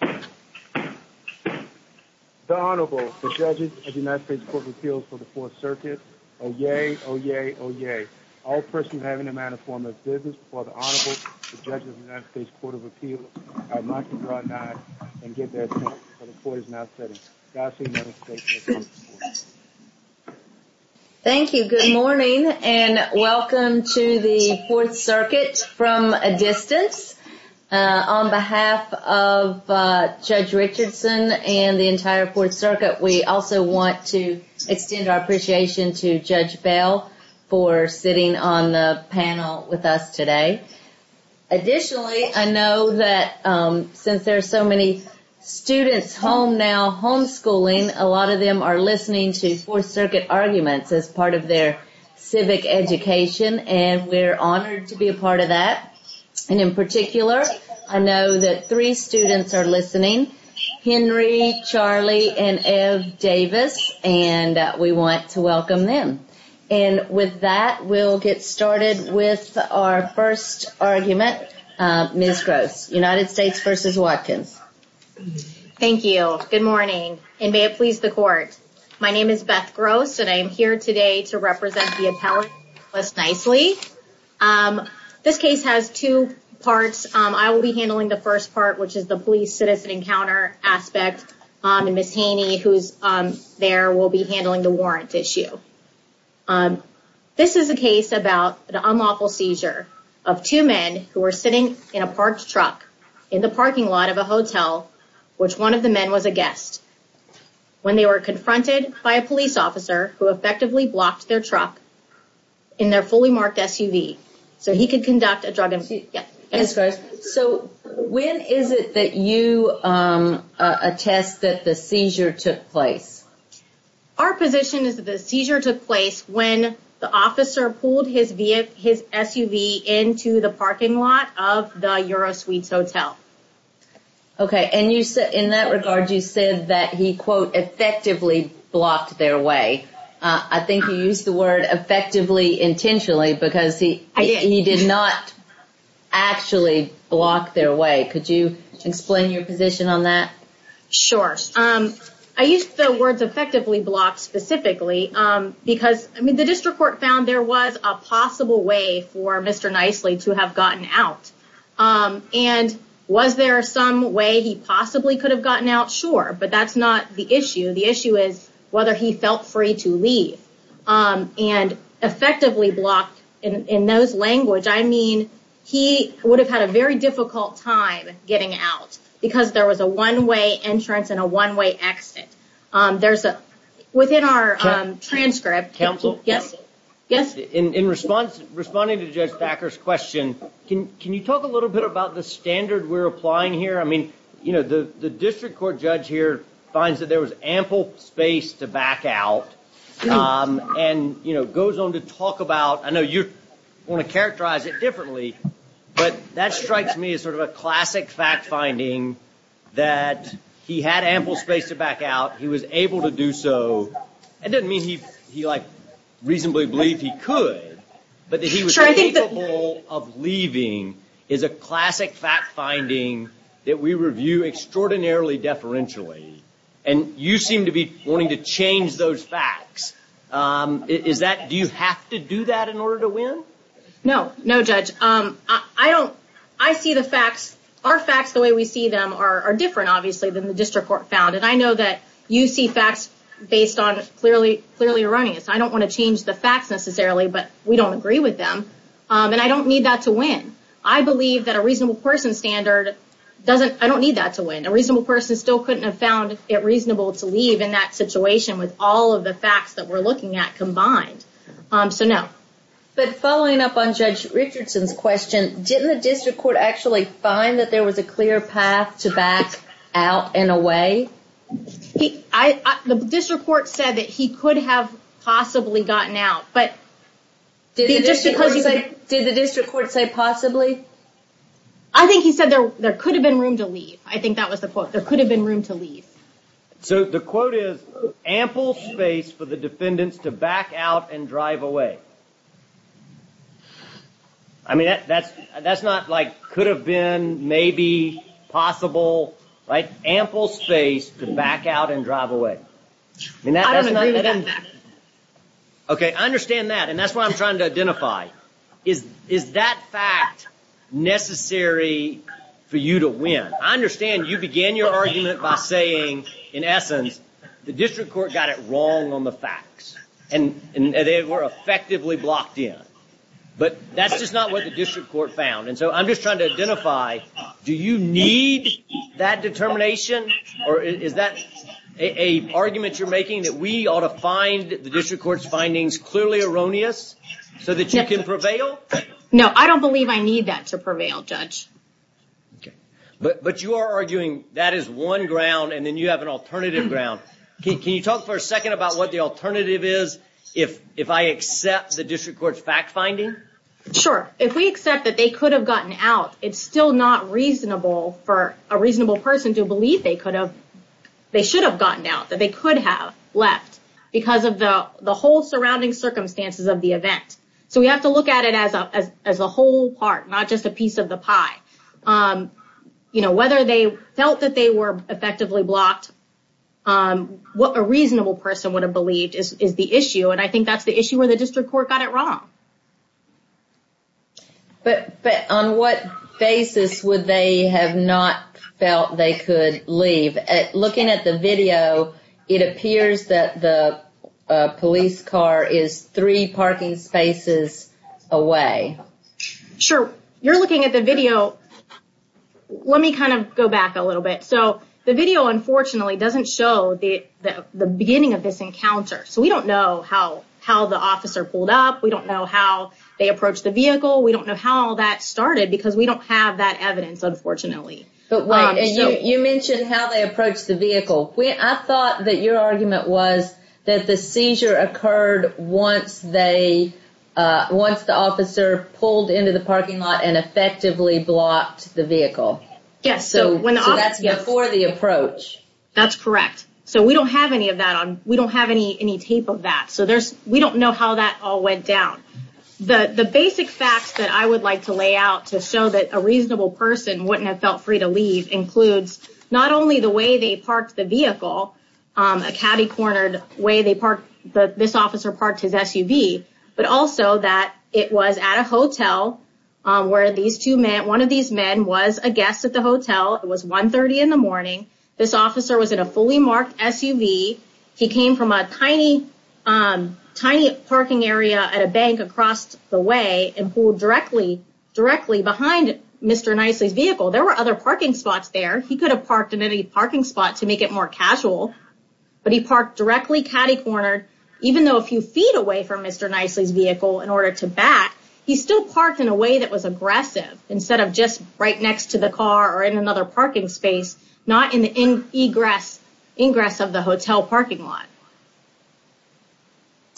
The Honorable, the Judges of the United States Court of Appeals for the 4th Circuit, Oyez, Oyez, Oyez. All persons having a matter of form of business before the Honorable, the Judges of the United States Court of Appeals, are not to draw nods and give their attention to the court is now sitting. Thank you. Good morning and welcome to the 4th Circuit from a distance. On behalf of Judge Richardson and the entire 4th Circuit, we also want to extend our appreciation to Judge Bell for sitting on the panel with us today. Additionally, I know that since there is some schooling, a lot of them are listening to 4th Circuit arguments as part of their civic education, and we're honored to be a part of that. And in particular, I know that three students are listening, Henry, Charlie, and Ev Davis, and we want to welcome them. And with that, we'll get started with our first argument. Ms. Gross, United States v. Ms. Watkins. Thank you. Good morning, and may it please the court. My name is Beth Gross and I am here today to represent the appellate list nicely. This case has two parts. I will be handling the first part, which is the police-citizen encounter aspect, and Ms. Haney, who's there, will be handling the warrant issue. This is a case about an unlawful seizure of two men who were sitting in a parked truck in the parking lot of a hotel, which one of the men was a guest, when they were confronted by a police officer who effectively blocked their truck in their fully-marked SUV so he could conduct a drug investigation. So when is it that you attest that the seizure took place? Our position is that the seizure took place when the officer pulled his SUV into the parking lot of the Eurosuites Hotel. Okay, and in that regard, you said that he, quote, effectively blocked their way. I think you used the word effectively intentionally because he did not actually block their way. Could you explain your position on that? Sure. I used the words effectively blocked specifically because the district court found there was a possible way for Mr. Nicely to have gotten out. And was there some way he possibly could have gotten out? Sure, but that's not the issue. The issue is whether he felt free to leave. And effectively blocked, in those language, I mean he would have had a very difficult time getting out because there was a one-way entrance and a one-way exit. There's a, within our transcript. Counsel? Yes? In response, responding to Judge Thacker's question, can you talk a little bit about the standard we're applying here? I mean, you know, the district court judge here finds that there was ample space to back out and, you know, goes on to talk about, I know you want to characterize it differently, but that strikes me as sort of a classic fact-finding that he had ample space to back out, he was able to do so. It doesn't mean he, like, reasonably believed he could, but that he was capable of leaving is a classic fact-finding that we review extraordinarily deferentially. And you seem to be wanting to change those facts. Is that, do you have to do that in order to win? No, no Judge. I don't, I see the facts, our facts the way we see them are different obviously than the district court found, and I know that you see facts based on clearly erroneous. I don't want to change the facts necessarily, but we don't agree with them. And I don't need that to win. I believe that a reasonable person standard doesn't, I don't need that to win. A reasonable person still couldn't have found it reasonable to leave in that situation with all of the facts that we're looking at combined. So, no. But following up on Judge Richardson's question, didn't the district court actually find that there was a clear path to back out in a way? He, I, the district court said that he could have possibly gotten out, but just because he said, did the district court say possibly? I think he said there could have been room to leave. I think that was the quote. There could have been room to leave. So the quote is ample space for the defendants to back out and drive away. I mean that's, that's not like could have been, maybe, possible, right? Ample space to back out and drive away. I don't agree with that. Okay. I understand that. And that's what I'm trying to identify. Is, is that fact necessary for you to win? I understand you began your argument by saying, in essence, the district court got it wrong on the facts and they were effectively blocked in. But that's just not what the district court found. And so I'm just trying to identify, do you need that argument you're making that we ought to find the district court's findings clearly erroneous so that you can prevail? No, I don't believe I need that to prevail, Judge. Okay. But, but you are arguing that is one ground and then you have an alternative ground. Can you talk for a second about what the alternative is if, if I accept the district court's fact finding? Sure. If we accept that they could have gotten out, it's still not reasonable for a reasonable person to believe they could have, they should have gotten out, that they could have left because of the, the whole surrounding circumstances of the event. So we have to look at it as a, as a whole part, not just a piece of the pie. You know, whether they felt that they were effectively blocked, what a reasonable person would have believed is, is the issue. And I think that's the issue where the district court got it wrong. But, but on what basis would they have not felt they could leave? Looking at the video, it appears that the police car is three parking spaces away. Sure. You're looking at the video. Let me kind of go back a little bit. So the video, unfortunately, doesn't show the beginning of this encounter. So we don't know how, how the officer pulled up. We don't know how they approached the vehicle. We don't know how all that started because we don't have that evidence, unfortunately. But wait, you mentioned how they approached the vehicle. I thought that your argument was that the seizure occurred once they, once the officer pulled into the parking lot and effectively blocked the vehicle. Yes. So that's before the approach. That's correct. So we don't have any of that on, we don't have any, any tape of that. So there's, we don't know how that all went down. The, the basic facts that I would like to lay out to show that a reasonable person wouldn't have felt free to leave includes not only the way they parked the vehicle, a cabby-cornered way they parked, this officer parked his SUV, but also that it was at a hotel where these two men, one of these men was a guest at the hotel. It was 1.30 in the morning. This officer was in a fully marked SUV. He came from a tiny, tiny parking area at a bank across the way and pulled directly, directly behind Mr. Nicely's vehicle. There were other parking spots there. He could have parked in any parking spot to make it more casual, but he parked directly cabby-cornered, even though a few feet away from Mr. Nicely's vehicle in order to back, he still parked in a way that was aggressive instead of just right next to the car or in another parking space, not in the ingress, ingress of the hotel parking lot.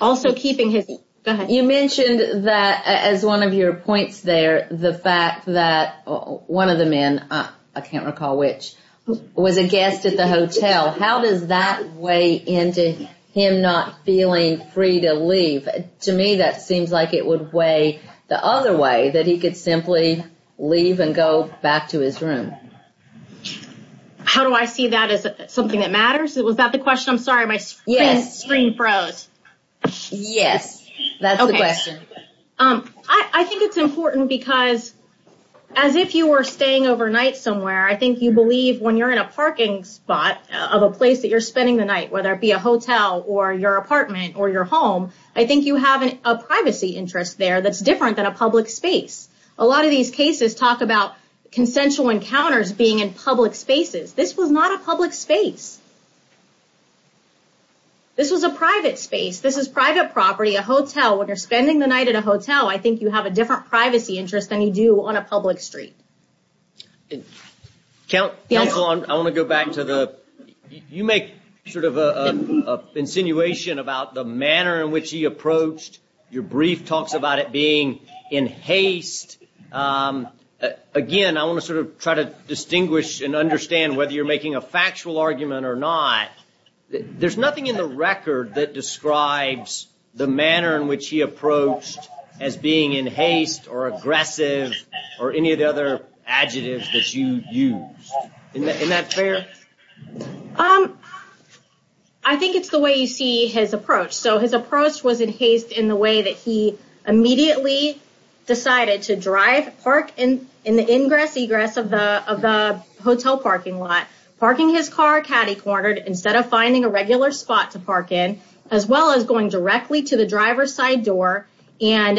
Also keeping his, go ahead. You mentioned that as one of your points there, the fact that one of the men, I can't recall which, was a guest at the hotel. How does that weigh into him not feeling free to leave? To me, that seems like it would weigh the other way that he could simply leave and go back to his room. How do I see that as something that matters? Was that the question? I'm sorry, my screen froze. Yes, that's the question. I think it's important because as if you were staying overnight somewhere, I think you believe when you're in a parking spot of a place that you're spending the night, whether it be a hotel or your apartment or your home, I think you have a privacy interest there that's different than a public space. A lot of these cases talk about consensual encounters being in public spaces. This was not a public space. This was a private space. This is private property, a hotel. When you're spending the night at a hotel, I think you have a different privacy interest than you do on a public street. Counsel, I want to go back to the, you make sort of an insinuation about the manner in which he approached. Your brief talks about it being in haste. Again, I want to sort of try to distinguish and understand whether you're making a factual argument or not. There's nothing in the record that describes the manner in which he approached as being in haste or aggressive or any of the other adjectives that you used. Isn't that fair? I think it's the way you see his approach. His approach was in haste in the way that he immediately decided to drive, park in the ingress, egress of the hotel parking lot, parking his car catty-cornered instead of finding a regular spot to park in, as well as going directly to the driver's side door and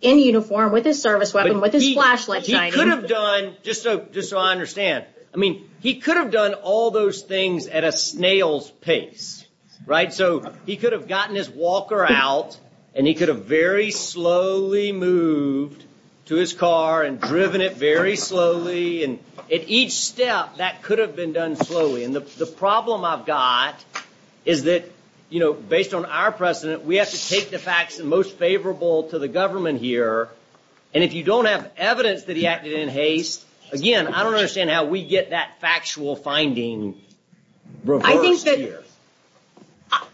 in uniform with his service weapon, with his flashlight shining. He could have done, just so I understand, he could have done all those things at a snail's pace, right? So he could have gotten his walker out and he could have very slowly moved to his car and driven it very slowly. And at each step, that could have been done slowly. And the problem I've got is that, you know, based on our precedent, we have to take the facts the most favorable to the government here. And if you don't have evidence that he acted in haste, again, I don't think we get that factual finding reversed here.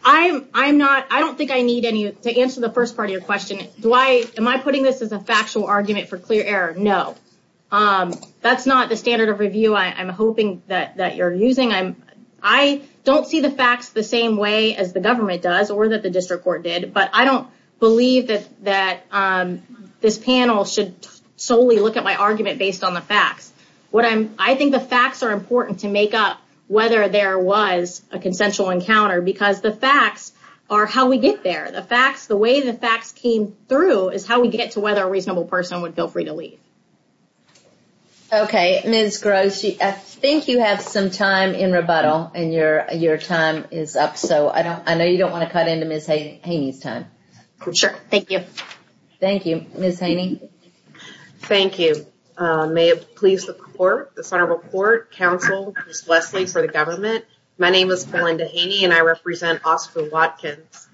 I don't think I need any to answer the first part of your question. Am I putting this as a factual argument for clear error? No. That's not the standard of review I'm hoping that you're using. I don't see the facts the same way as the government does or that the district court did, but I don't think the facts are important to make up whether there was a consensual encounter because the facts are how we get there. The facts, the way the facts came through is how we get to whether a reasonable person would feel free to leave. Okay. Ms. Gross, I think you have some time in rebuttal and your time is up. So I know you don't want to cut into Ms. Haney's time. Sure. Thank you. Thank you. Ms. Haney. Thank you. May it please the court, the Senate report, counsel, Ms. Leslie for the government. My name is Belinda Haney and I represent Oscar Watkins.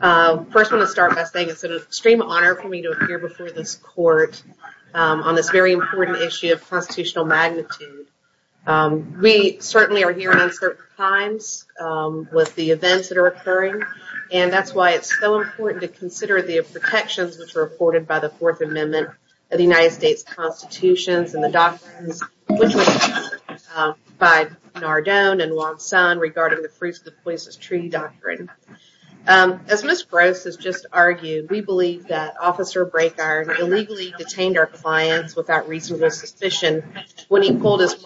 First, I want to start by saying it's an extreme honor for me to appear before this court on this very important issue of constitutional magnitude. We certainly are here in uncertain times with the events that are occurring. And that's why it's so important to consider the protections reported by the Fourth Amendment of the United States Constitutions and the doctrines by Nardone and Wong-Sun regarding the fruits of the poisonous tree doctrine. As Ms. Gross has just argued, we believe that Officer Brakeiron illegally detained our clients without reasonable suspicion when he pulled his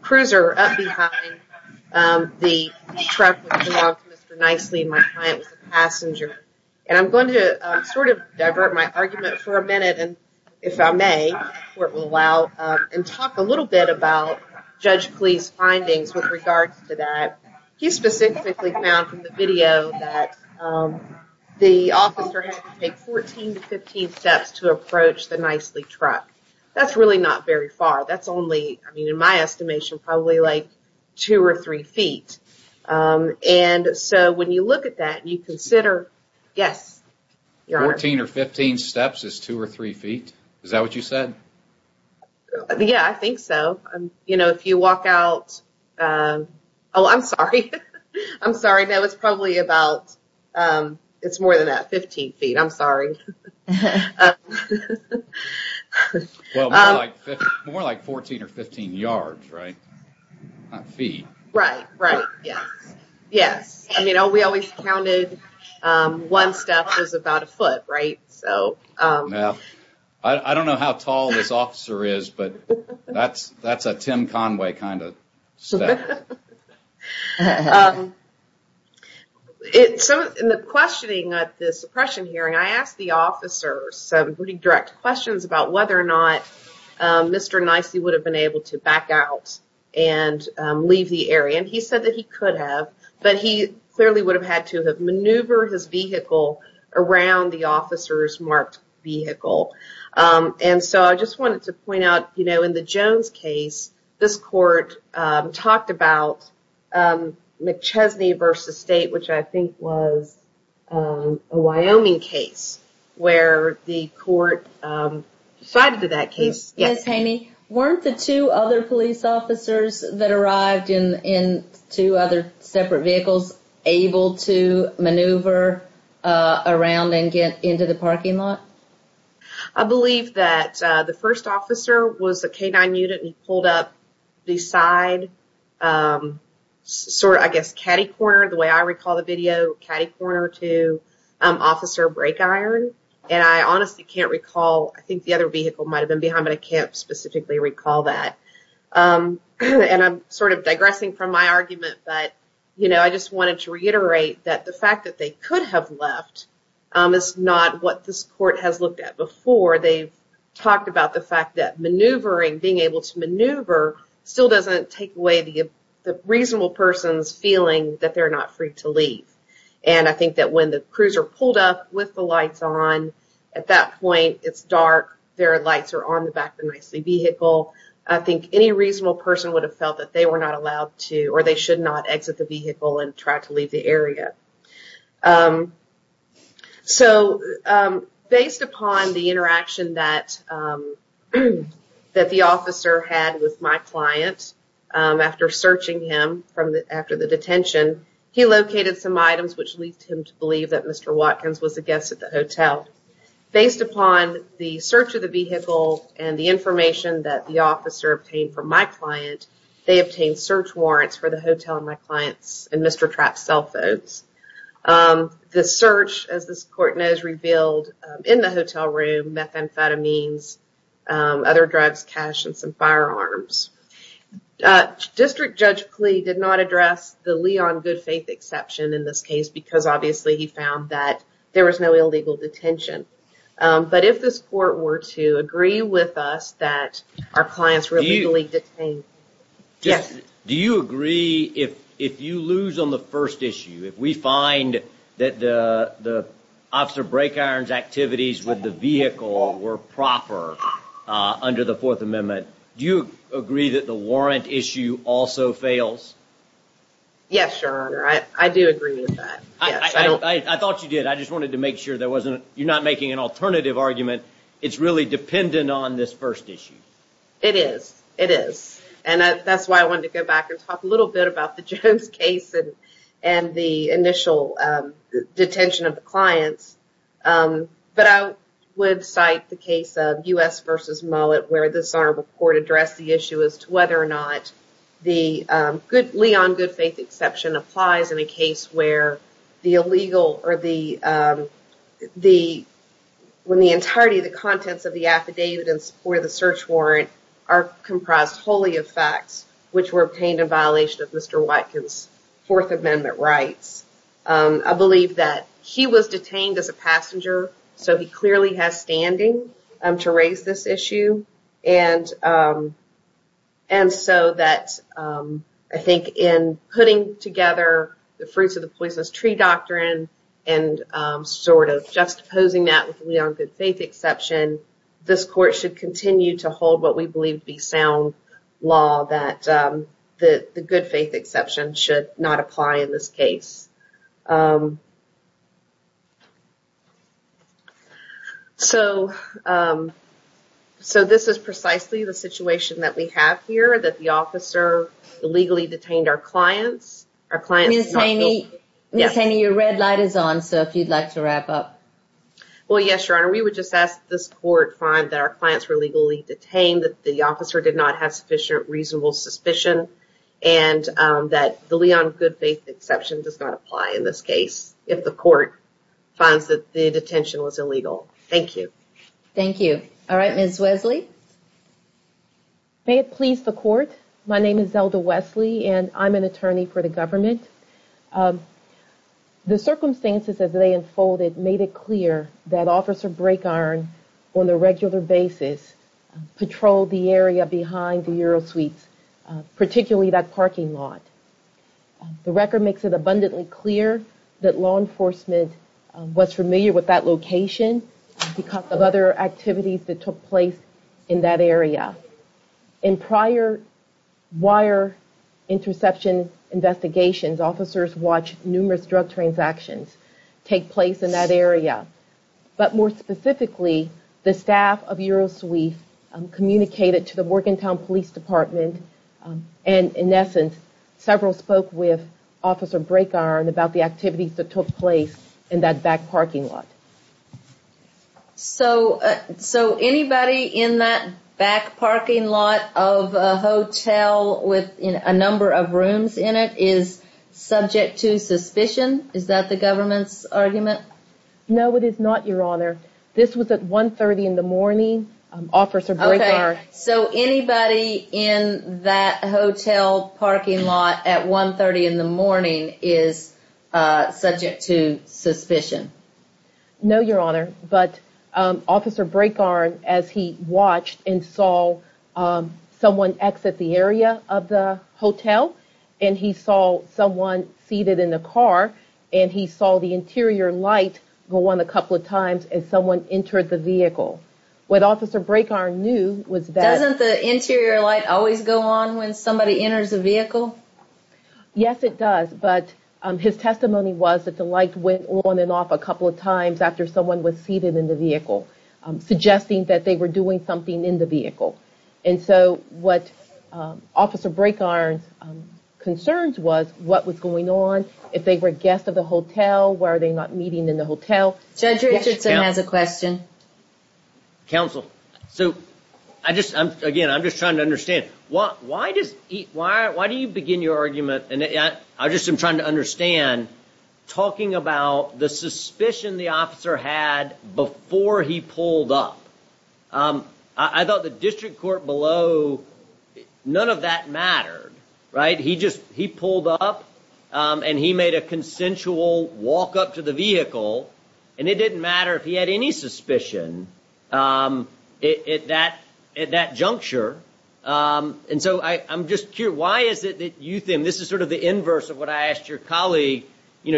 cruiser up behind the truck that belonged to Mr. Nicely and my client was a passenger. And I'm going to sort of divert my argument for a minute, and if I may, the court will allow, and talk a little bit about Judge Plea's findings with regards to that. He specifically found from the video that the officer had to take 14 to 15 steps to approach the Nicely truck. That's really not very far. That's only, in my estimation, probably like two or three feet. And so when you look at that, you consider, yes. Fourteen or fifteen steps is two or three feet? Is that what you said? Yeah, I think so. You know, if you walk out, oh, I'm sorry. I'm sorry. I know it's probably about, it's more than that, 15 feet. I'm sorry. Well, more like 14 or 15 yards, right? Not feet. Right, right. Yes. Yes. I mean, we always counted one step as about a foot, right? I don't know how tall this officer is, but that's a Tim Conway kind of step. In the questioning at the suppression hearing, I asked the officer some pretty direct questions about whether or not Mr. Nicely would have been able to back out and leave the area. And he said that he could have. But he clearly would have had to have maneuvered his vehicle around the officer's marked vehicle. And so I just wanted to point out, you know, in the Jones case, this court talked about McChesney v. State, which I think was a Wyoming case, where the court sided with that case. Ms. Haney, weren't the two other police officers that arrived in two other separate vehicles able to maneuver around and get into the parking lot? I believe that the first officer was a K-9 unit and he pulled up beside, sort of, I guess, Caddy Corner, the way I recall the video, Caddy Corner to Officer Brakeiron. And I honestly can't recall, I think the other vehicle might have been behind, but I can't specifically recall that. And I'm sort of digressing from my argument, but, you know, I just wanted to reiterate that the fact that they could have left is not what this court has looked at before. They've talked about the fact that maneuvering, being able to maneuver, still doesn't take away the reasonable person's feeling that they're not free to leave. And I think that when the cruiser pulled up with the lights on, at that point it's dark, their lights are on the back of the vehicle. I think any reasonable person would have felt that they were not allowed to, or they should not exit the vehicle and try to leave the area. So, based upon the interaction that the officer had with my client after searching him after the detention, he located some items which led him to believe that Mr. Watkins was a guest at the hotel. Based upon the search of the vehicle and the information that the officer obtained from my client, they obtained search warrants for the hotel and my client's and Mr. Trapp's cell phones. The search, as this court knows, was revealed in the hotel room, methamphetamines, other drugs, cash, and some firearms. District Judge Klee did not address the Leon Goodfaith exception in this case because obviously he found that there was no illegal detention. But if this court were to agree with us that our clients were legally detained... Do you agree, if you lose on the first issue, if we find that the officer break-irons activities with the vehicle were proper under the Fourth Amendment, do you agree that the warrant issue also fails? Yes, Your Honor, I do agree with that. I thought you did, I just wanted to make sure that you're not making an alternative argument. It's really dependent on this first issue. It is, it is. And that's why I wanted to go back and talk a little bit about the Jones case and the initial detention of the clients. But I would cite the case of U.S. v. Mullet where this Honorable Court addressed the issue as to whether or not the Leon Goodfaith exception applies in a case where the illegal or the entirety of the contents of the affidavit in support of the search warrant are comprised wholly of facts which were obtained in violation of Mr. Watkins' Fourth Amendment rights. I believe that he was detained as a passenger, so he clearly has standing to raise this issue and so that I think in putting together the Fruits of the Poisonous Tree doctrine and sort of juxtaposing that with the Leon Goodfaith exception, this Court should continue to hold what we believe to be sound law that the Goodfaith exception should not apply in this case. So this is precisely the situation that we have here, that the officer illegally detained our clients. Ms. Haney, your red light is on, so if you'd like to wrap up. Well, yes, Your Honor. We would just ask this Court find that our clients were legally detained, that the officer did not have sufficient reasonable suspicion, and that the Leon Goodfaith exception does not apply in this case if the Court finds that the detention was illegal. Thank you. Thank you. All right, Ms. Wesley. May it please the Court, my name is Zelda Wesley and I'm an attorney for the government. The circumstances as they unfolded made it clear that Officer Brakeiron, on a regular basis, patrolled the area behind the Euro Suites, particularly that parking lot. The record makes it abundantly clear that law enforcement was familiar with that location because of other activities that took place in that area. In prior wire interception investigations, officers watched numerous drug transactions take place in that area. But more specifically, the staff of Euro Suite communicated to the Morgantown Police Department and, in essence, several spoke with Officer Brakeiron about the activities that took place in that back parking lot. So, anybody in that back parking lot of a hotel with a number of rooms in it is subject to suspicion? Is that the government's argument? No, it is not, Your Honor. This was at 1.30 in the morning. Officer Brakeiron... Okay, so anybody in that hotel parking lot at 1.30 in the morning is subject to suspicion? No, Your Honor, but Officer Brakeiron, as he watched and saw someone exit the area of the hotel and he saw someone seated in a car and he saw the interior light go on a couple of times as someone entered the vehicle. What Officer Brakeiron knew was that... Doesn't the interior light always go on when somebody enters a vehicle? Yes, it does, but his testimony was that the light went on and off a couple of times after someone was seated in the vehicle, suggesting that they were doing something in the vehicle. And so, what Officer Brakeiron's concerns was what was going on, if they were guests of the hotel, were they not meeting in the hotel? Judge Richardson has a question. Counsel, again, I'm just trying to understand. Why do you begin your argument, and I'm just trying to understand, talking about the suspicion the officer had before he pulled up? I thought the district court below, none of that mattered, right? He pulled up and he made a consensual walk up to the vehicle, and it didn't matter if he had any suspicion at that juncture. And so, I'm just curious, why is it that you think... This is sort of the inverse of what I asked your colleague.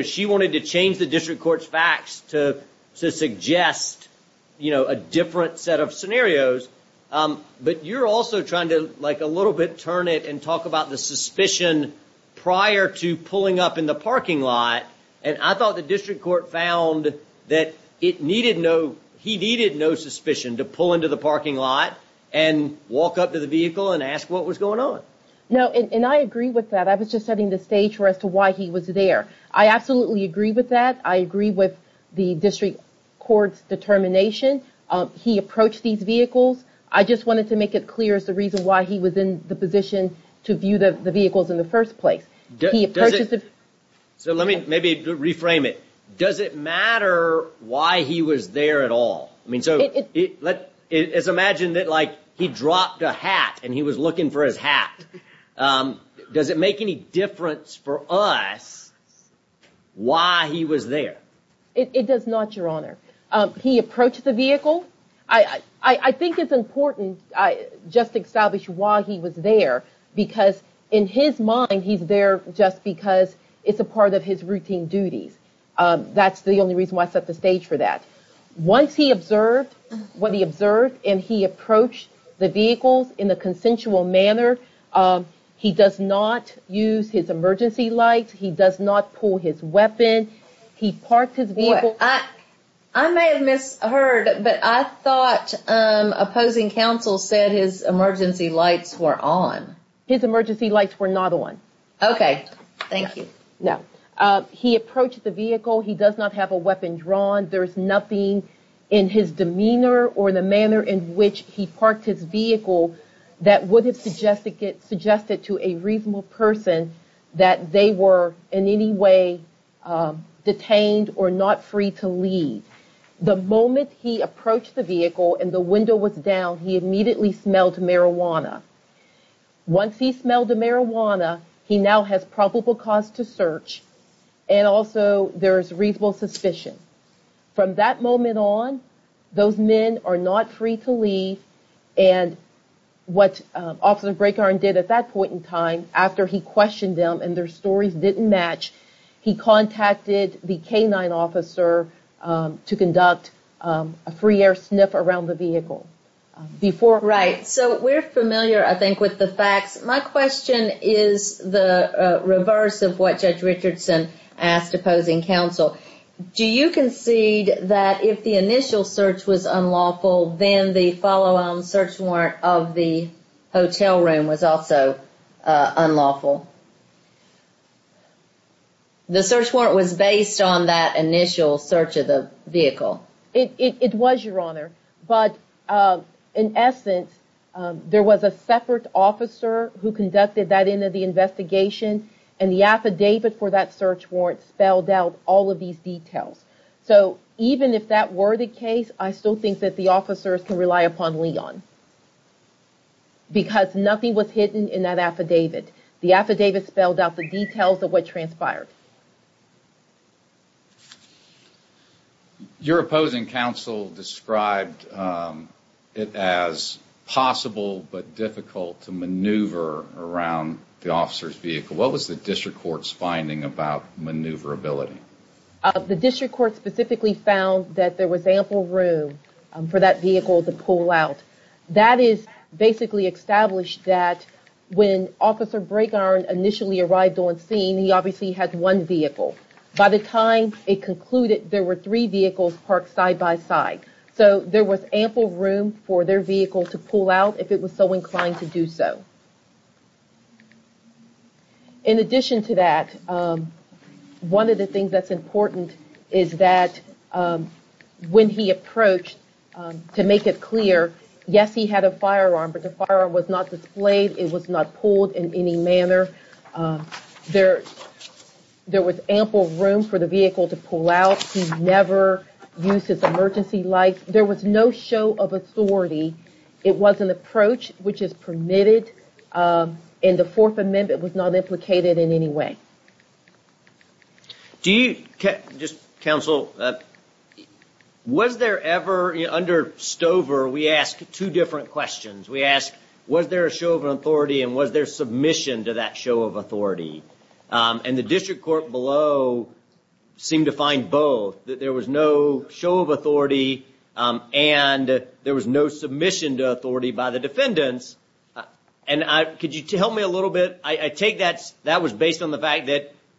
She wanted to change the district court's facts to suggest a different set of scenarios. But you're also trying to a little bit turn it and talk about the suspicion prior to pulling up in the parking lot. And I thought the district court found that he needed no suspicion to pull into the parking lot and walk up to the vehicle and ask what was going on. No, and I agree with that. I was just setting the stage as to why he was there. I absolutely agree with that. I agree with the district court's determination. He approached these vehicles. I just wanted to make it clear as to why he was in the position to view the vehicles in the first place. So let me maybe reframe it. Does it matter why he was there at all? Let's imagine that he dropped a hat and he was looking for his hat. Does it make any difference for us why he was there? It does not, your honor. He approached the vehicle. I think it's important just to establish why he was there, because in his mind he's there just because it's a part of his routine duties. That's the only reason why I set the stage for that. Once he observed what he observed and he approached the vehicles in a consensual manner, he does not use his emergency lights. He does not pull his weapon. He parked his vehicle. I may have misheard, but I thought opposing counsel said his emergency lights were on. His emergency lights were not on. He approached the vehicle. He does not have a weapon drawn. There's nothing in his demeanor or the manner in which he parked his vehicle that would have suggested to a reasonable person that they were in any way detained or not free to leave. The moment he approached the vehicle and the window was down, he immediately smelled marijuana. Once he smelled the marijuana, he now has probable cause to search, and also there is reasonable suspicion. From that moment on, those men are not free to leave, and what Officer Brakehorn did at that point in time, after he questioned them and their stories didn't match, he contacted the Right. So we're familiar, I think, with the facts. My question is the reverse of what Judge Richardson asked opposing counsel. Do you concede that if the initial search was unlawful, then the follow-on search warrant of the hotel room was also unlawful? The search warrant was based on that initial search of the vehicle. It was, Your Honor, but in essence, there was a separate officer who conducted that end of the investigation, and the affidavit for that search warrant spelled out all of these details. So even if that were the case, I still think that the officers can rely upon Leon, because nothing was hidden in that affidavit. The affidavit spelled out the details of what transpired. Your opposing counsel described it as possible, but difficult to maneuver around the officer's vehicle. What was the District Court's finding about maneuverability? The District Court specifically found that there was ample room for that vehicle to pull out. That is basically established that when Officer Braegarn initially arrived on scene, he obviously had one vehicle. By the time it concluded, there were three vehicles parked side-by-side. So there was ample room for their vehicle to pull out, if it was so inclined to do so. In addition to that, one of the things that's important is that when he approached, to make it clear, yes, he had a firearm, but the firearm was not displayed. It was not pulled in any manner. There was ample room for the vehicle to pull out. He never used his emergency lights. There was no show of authority. It was an emergency vehicle. Under Stover, we ask two different questions. We ask, was there a show of authority and was there submission to that show of authority? The District Court below seemed to find both. There was no show of authority and there was no submission to authority by the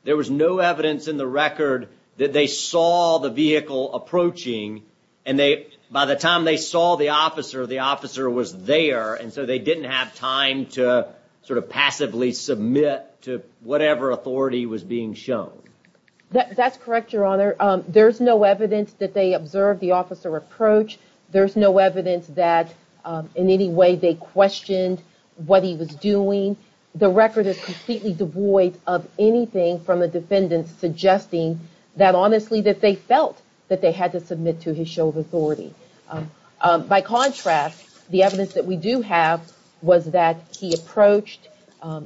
There was no evidence in the record that they saw the vehicle approaching. By the time they saw the officer, the officer was there and so they didn't have time to passively submit to whatever authority was being shown. That's correct, Your Honor. There's no evidence that they observed the officer approach. There's no evidence that in any way they questioned what he was doing. The record is completely devoid of anything from the defendants suggesting that honestly that they felt that they had to submit to his show of authority. By contrast, the evidence that we do have was that he approached,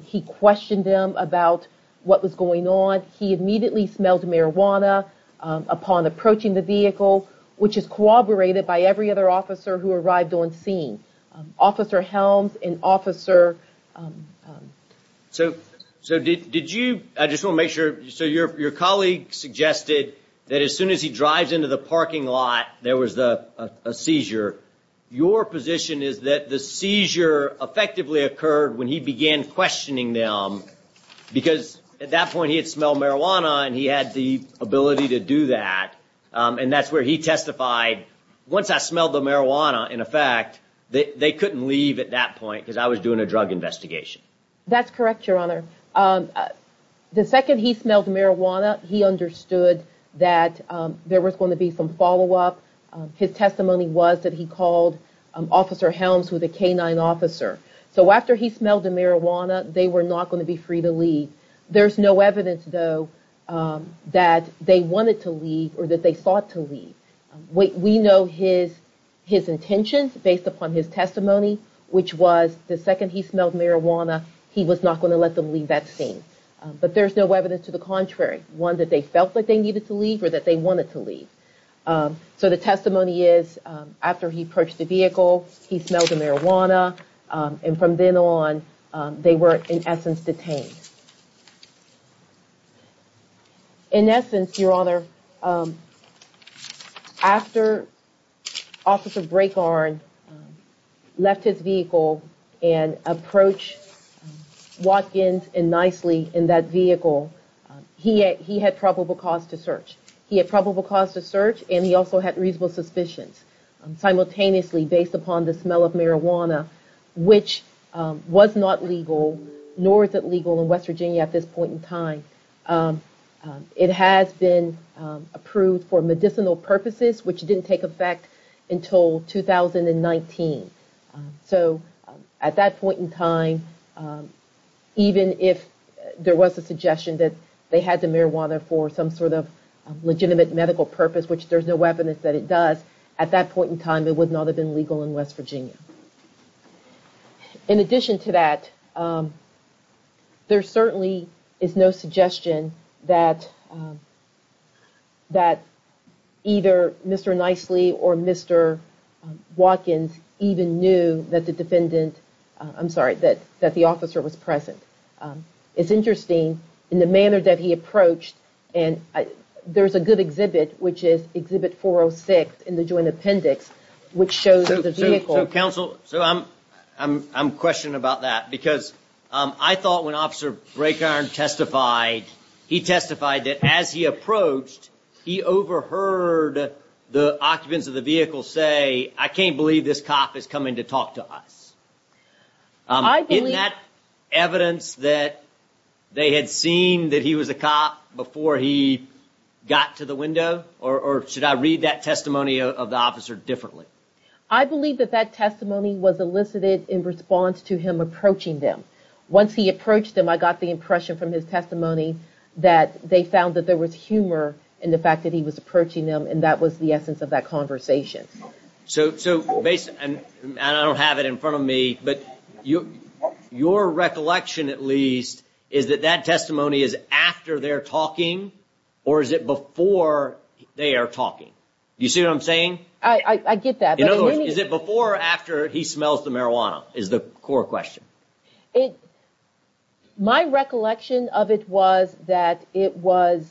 he questioned him about what was going on. He immediately smelled marijuana upon approaching the vehicle, which is corroborated by every other officer who arrived on scene. Officer Helms and Officer... Your colleague suggested that as soon as he drives into the parking lot, there was a seizure. Your position is that the seizure effectively occurred when he began questioning them because at that point he had smelled marijuana and he had the ability to do that. And that's where he testified, once I smelled the marijuana, in effect, they couldn't leave at that point because I was doing a drug investigation. That's correct, Your Honor. The second he smelled marijuana, he understood that there was going to be some follow up. His testimony was that he called Officer Helms, who was a canine officer. So after he smelled the marijuana, they were not going to be free to leave. There's no evidence, though, that they wanted to leave or that they thought to leave. We know his intentions based upon his testimony, which was the second he smelled marijuana, he was not going to let them leave that scene. But there's no evidence to the contrary. One, that they felt like they needed to leave or that they wanted to leave. So the testimony is, after he approached the vehicle, he smelled the marijuana. And from then on, they were, in essence, detained. In essence, Your Honor, after Officer Brakehorn left his vehicle and approached Watkins and Nicely in that vehicle, he had probable cause to search. He had probable cause to search and he also had reasonable suspicions. Simultaneously, based upon the smell of marijuana, which was not legal, nor is it legal in West Virginia at this point in time, it has been approved for medicinal purposes, which didn't take effect until 2019. So at that point in time, even if there was a suggestion that they had the marijuana for some sort of legitimate medical purpose, which there's no evidence that it does, at that point in time, it would not have been legal in West Virginia. In addition to that, there certainly is no suggestion that either Mr. Nicely or Mr. Watkins even knew that the defendant, I'm sorry, that the officer was present. It's interesting, in the manner that he approached, and there's a good exhibit, which is exhibit 406 in the joint appendix, which shows the vehicle. So counsel, I'm questioning about that because I thought when Officer Braeckarn testified, he testified that as he approached, he overheard the occupants of the vehicle say, I can't believe this cop is coming to talk to us. Isn't that evidence that they had seen that he was a cop before he got to the window? Or should I read that testimony of the officer differently? I believe that that testimony was elicited in response to him approaching them. Once he approached them, I got the impression from his testimony that they found that there was humor in the fact that he was approaching them, and that was the essence of that conversation. So based, and I don't have it in front of me, but your recollection, at least, is that that testimony is after they're talking or is it before they are talking? You see what I'm saying? I get that. Is it before or after he smells the marijuana is the core question? My recollection of it was that it was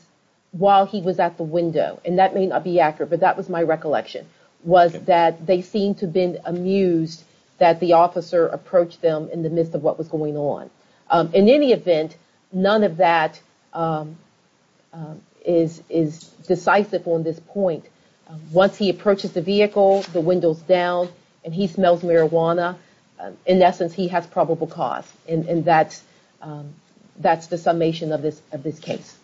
while he was at the window, and that may not be accurate, but that was my recollection, was that they seemed to have been amused that the officer approached them in the midst of what was going on. In any event, none of that is decisive on this point. Once he approaches the vehicle, the windows down, and he smells marijuana, in essence, he has probable cause. And that's the summation of this case.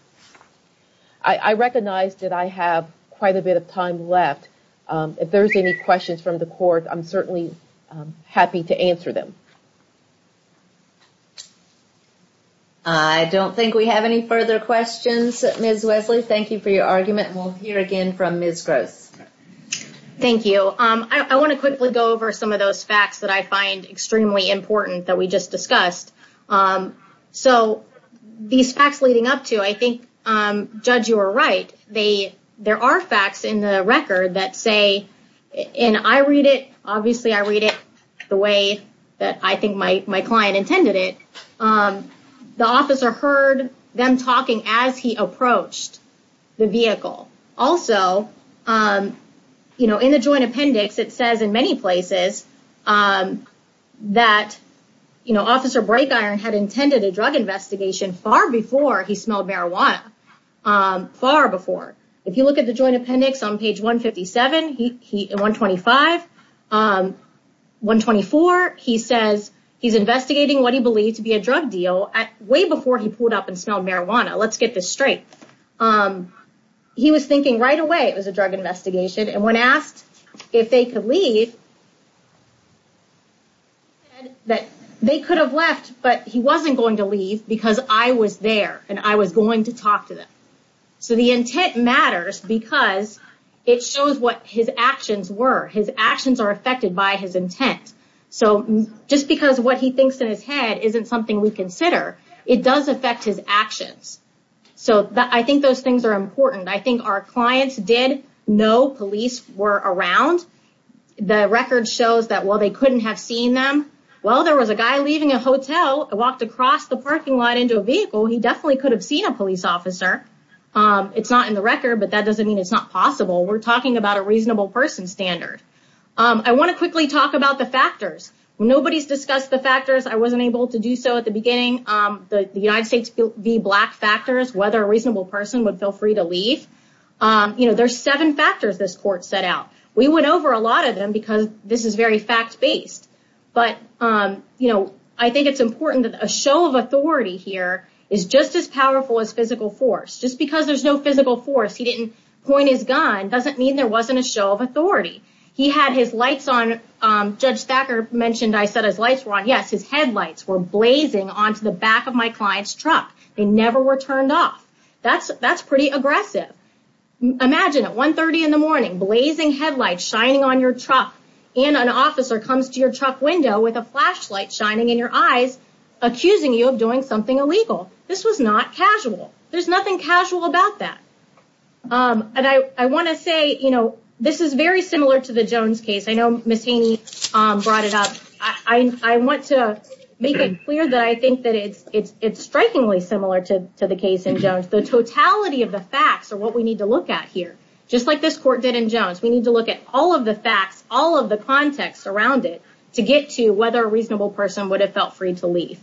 I recognize that I have quite a bit of time left. If there's any questions from the court, I'm certainly happy to answer them. I don't think we have any further questions, Ms. Wesley. Thank you for your argument, and we'll hear again from Ms. Gross. Thank you. I want to quickly go over some of those facts that I find extremely important that we just discussed. These facts leading up to, I think, Judge, you were right. There are facts in the record that say, and I read it, obviously I read it the way that I think my client intended it, the officer heard them talking as he approached the vehicle. Also, in the joint appendix, it says in many places that Officer Brakeiron had intended a drug investigation far before he smelled marijuana. Far before. If you look at the joint appendix on page 157, 125, 124, he says he's investigating what he believes to be a drug deal way before he pulled up and smelled marijuana. Let's get this straight. He was thinking right away it was a drug investigation, and when asked if they could leave, he said that they could have left, but he wasn't going to leave because I was there, and I was going to talk to them. So the intent matters because it shows what his actions were. His actions are affected by his intent. Just because what he thinks in his head isn't something we consider, it does affect his actions. I think those things are important. I think our clients did know police were around. The record shows that they couldn't have seen them. Well, there was a guy leaving a hotel and walked across the We're talking about a reasonable person standard. I want to quickly talk about the factors. Nobody's discussed the factors. I wasn't able to do so at the beginning. The United States v. Black factors, whether a reasonable person would feel free to leave. There's seven factors this court set out. We went over a lot of them because this is very fact-based, but I think it's important that a show of doesn't mean there wasn't a show of authority. Judge Thacker mentioned I said his lights were on. Yes, his headlights were blazing onto the back of my client's truck. They never were turned off. That's pretty aggressive. Imagine at 1.30 in the morning, blazing headlights shining on your truck and an officer comes to your truck window with a flashlight shining in your eyes, accusing you of doing something This is very similar to the Jones case. I know Ms. Haney brought it up. I want to make it clear that I think that it's strikingly similar to the case in Jones. The totality of the facts are what we need to look at here, just like this court did in Jones. We need to look at all of the facts, all of the context around it to get to whether a reasonable person would have felt free to leave.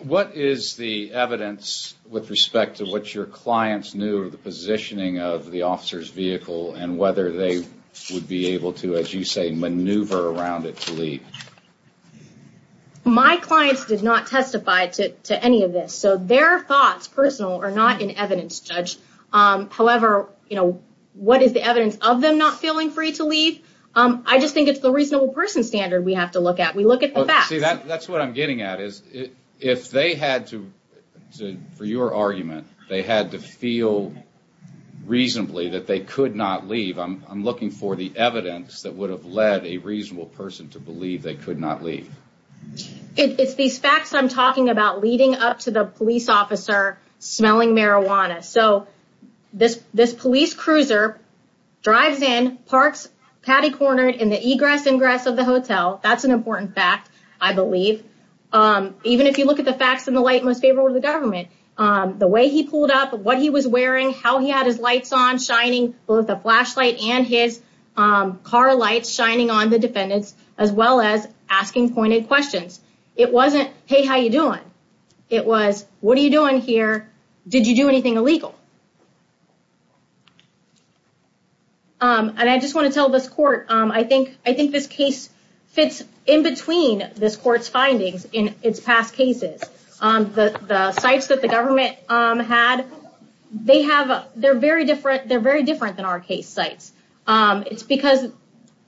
What is the evidence with respect to what your clients knew of the positioning of the officer's vehicle and whether they would be able to, as you say, maneuver around it to leave? My clients did not testify to any of this, so their thoughts, personal, are not in evidence, Judge. However, what is the evidence of them not feeling free to leave? I just think it's the reasonable person standard we have to look at. We look at the facts. That's what I'm getting at. If they had to, for your argument, they had to feel reasonably that they could not leave, I'm looking for the evidence that would have led a reasonable person to believe they could not leave. It's these facts I'm talking about leading up to the police officer smelling marijuana. This police cruiser drives in, parks patty-cornered in the egress ingress of the hotel. That's an important fact, I believe. Even if you look at the facts in the light most favorable to the government, the way he pulled up, what he was wearing, how he had his lights on, shining both the flashlight and his car lights, shining on the defendants, as well as asking pointed questions. It wasn't, hey, how you doing? It was, what are you doing here? Did you do anything illegal? And I just want to tell this court, I think this case fits in between this court's findings in its past cases. The sites that the government had, they're very different than our case sites. It's because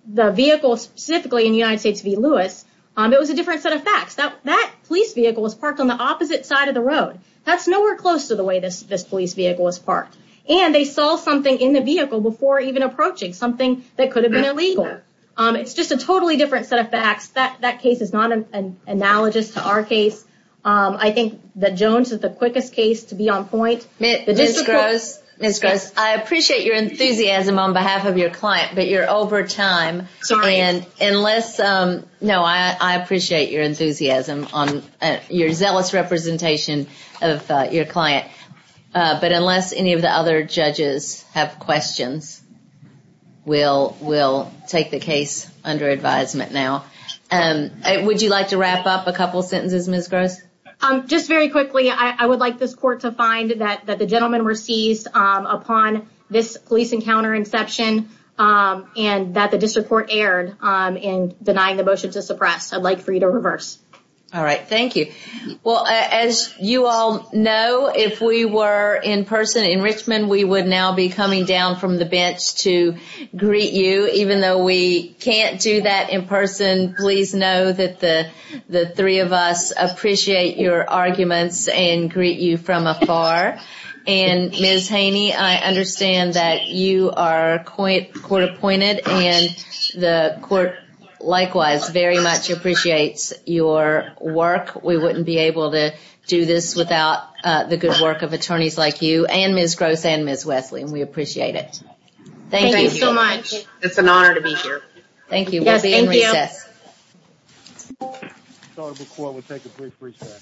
the vehicle specifically in United States v. Lewis, it was a different set of facts. That police vehicle was parked on the opposite side of the road. That's nowhere close to the way this police vehicle was parked. And they saw something in the vehicle before even approaching, something that could have been illegal. It's just a totally different set of facts. That case is not an analogous to our case. I think that Jones is the quickest case to be on point. Ms. Gross, I appreciate your enthusiasm on behalf of your client, but you're over time. No, I appreciate your enthusiasm, your zealous representation of your client. But unless any of the other judges have questions, we'll take the case under advisement now. Would you like to wrap up a couple sentences, Ms. Gross? Just very quickly, I would like this court to find that the gentlemen were seized upon this police encounter inception and that the district court erred in denying the motion to suppress. I'd like for you to reverse. All right. Thank you. Well, as you all know, if we were in person in Richmond, we would now be coming down from the bench to greet you. Even though we can't do that in person, please know that the three of us appreciate your arguments and greet you from afar. And Ms. Haney, I understand that you are court appointed and the court likewise very much appreciates your work. We wouldn't be able to do this without the good work of attorneys like you and Ms. Gross and Ms. Wesley. And we appreciate it. Thank you so much. It's an honor to be here.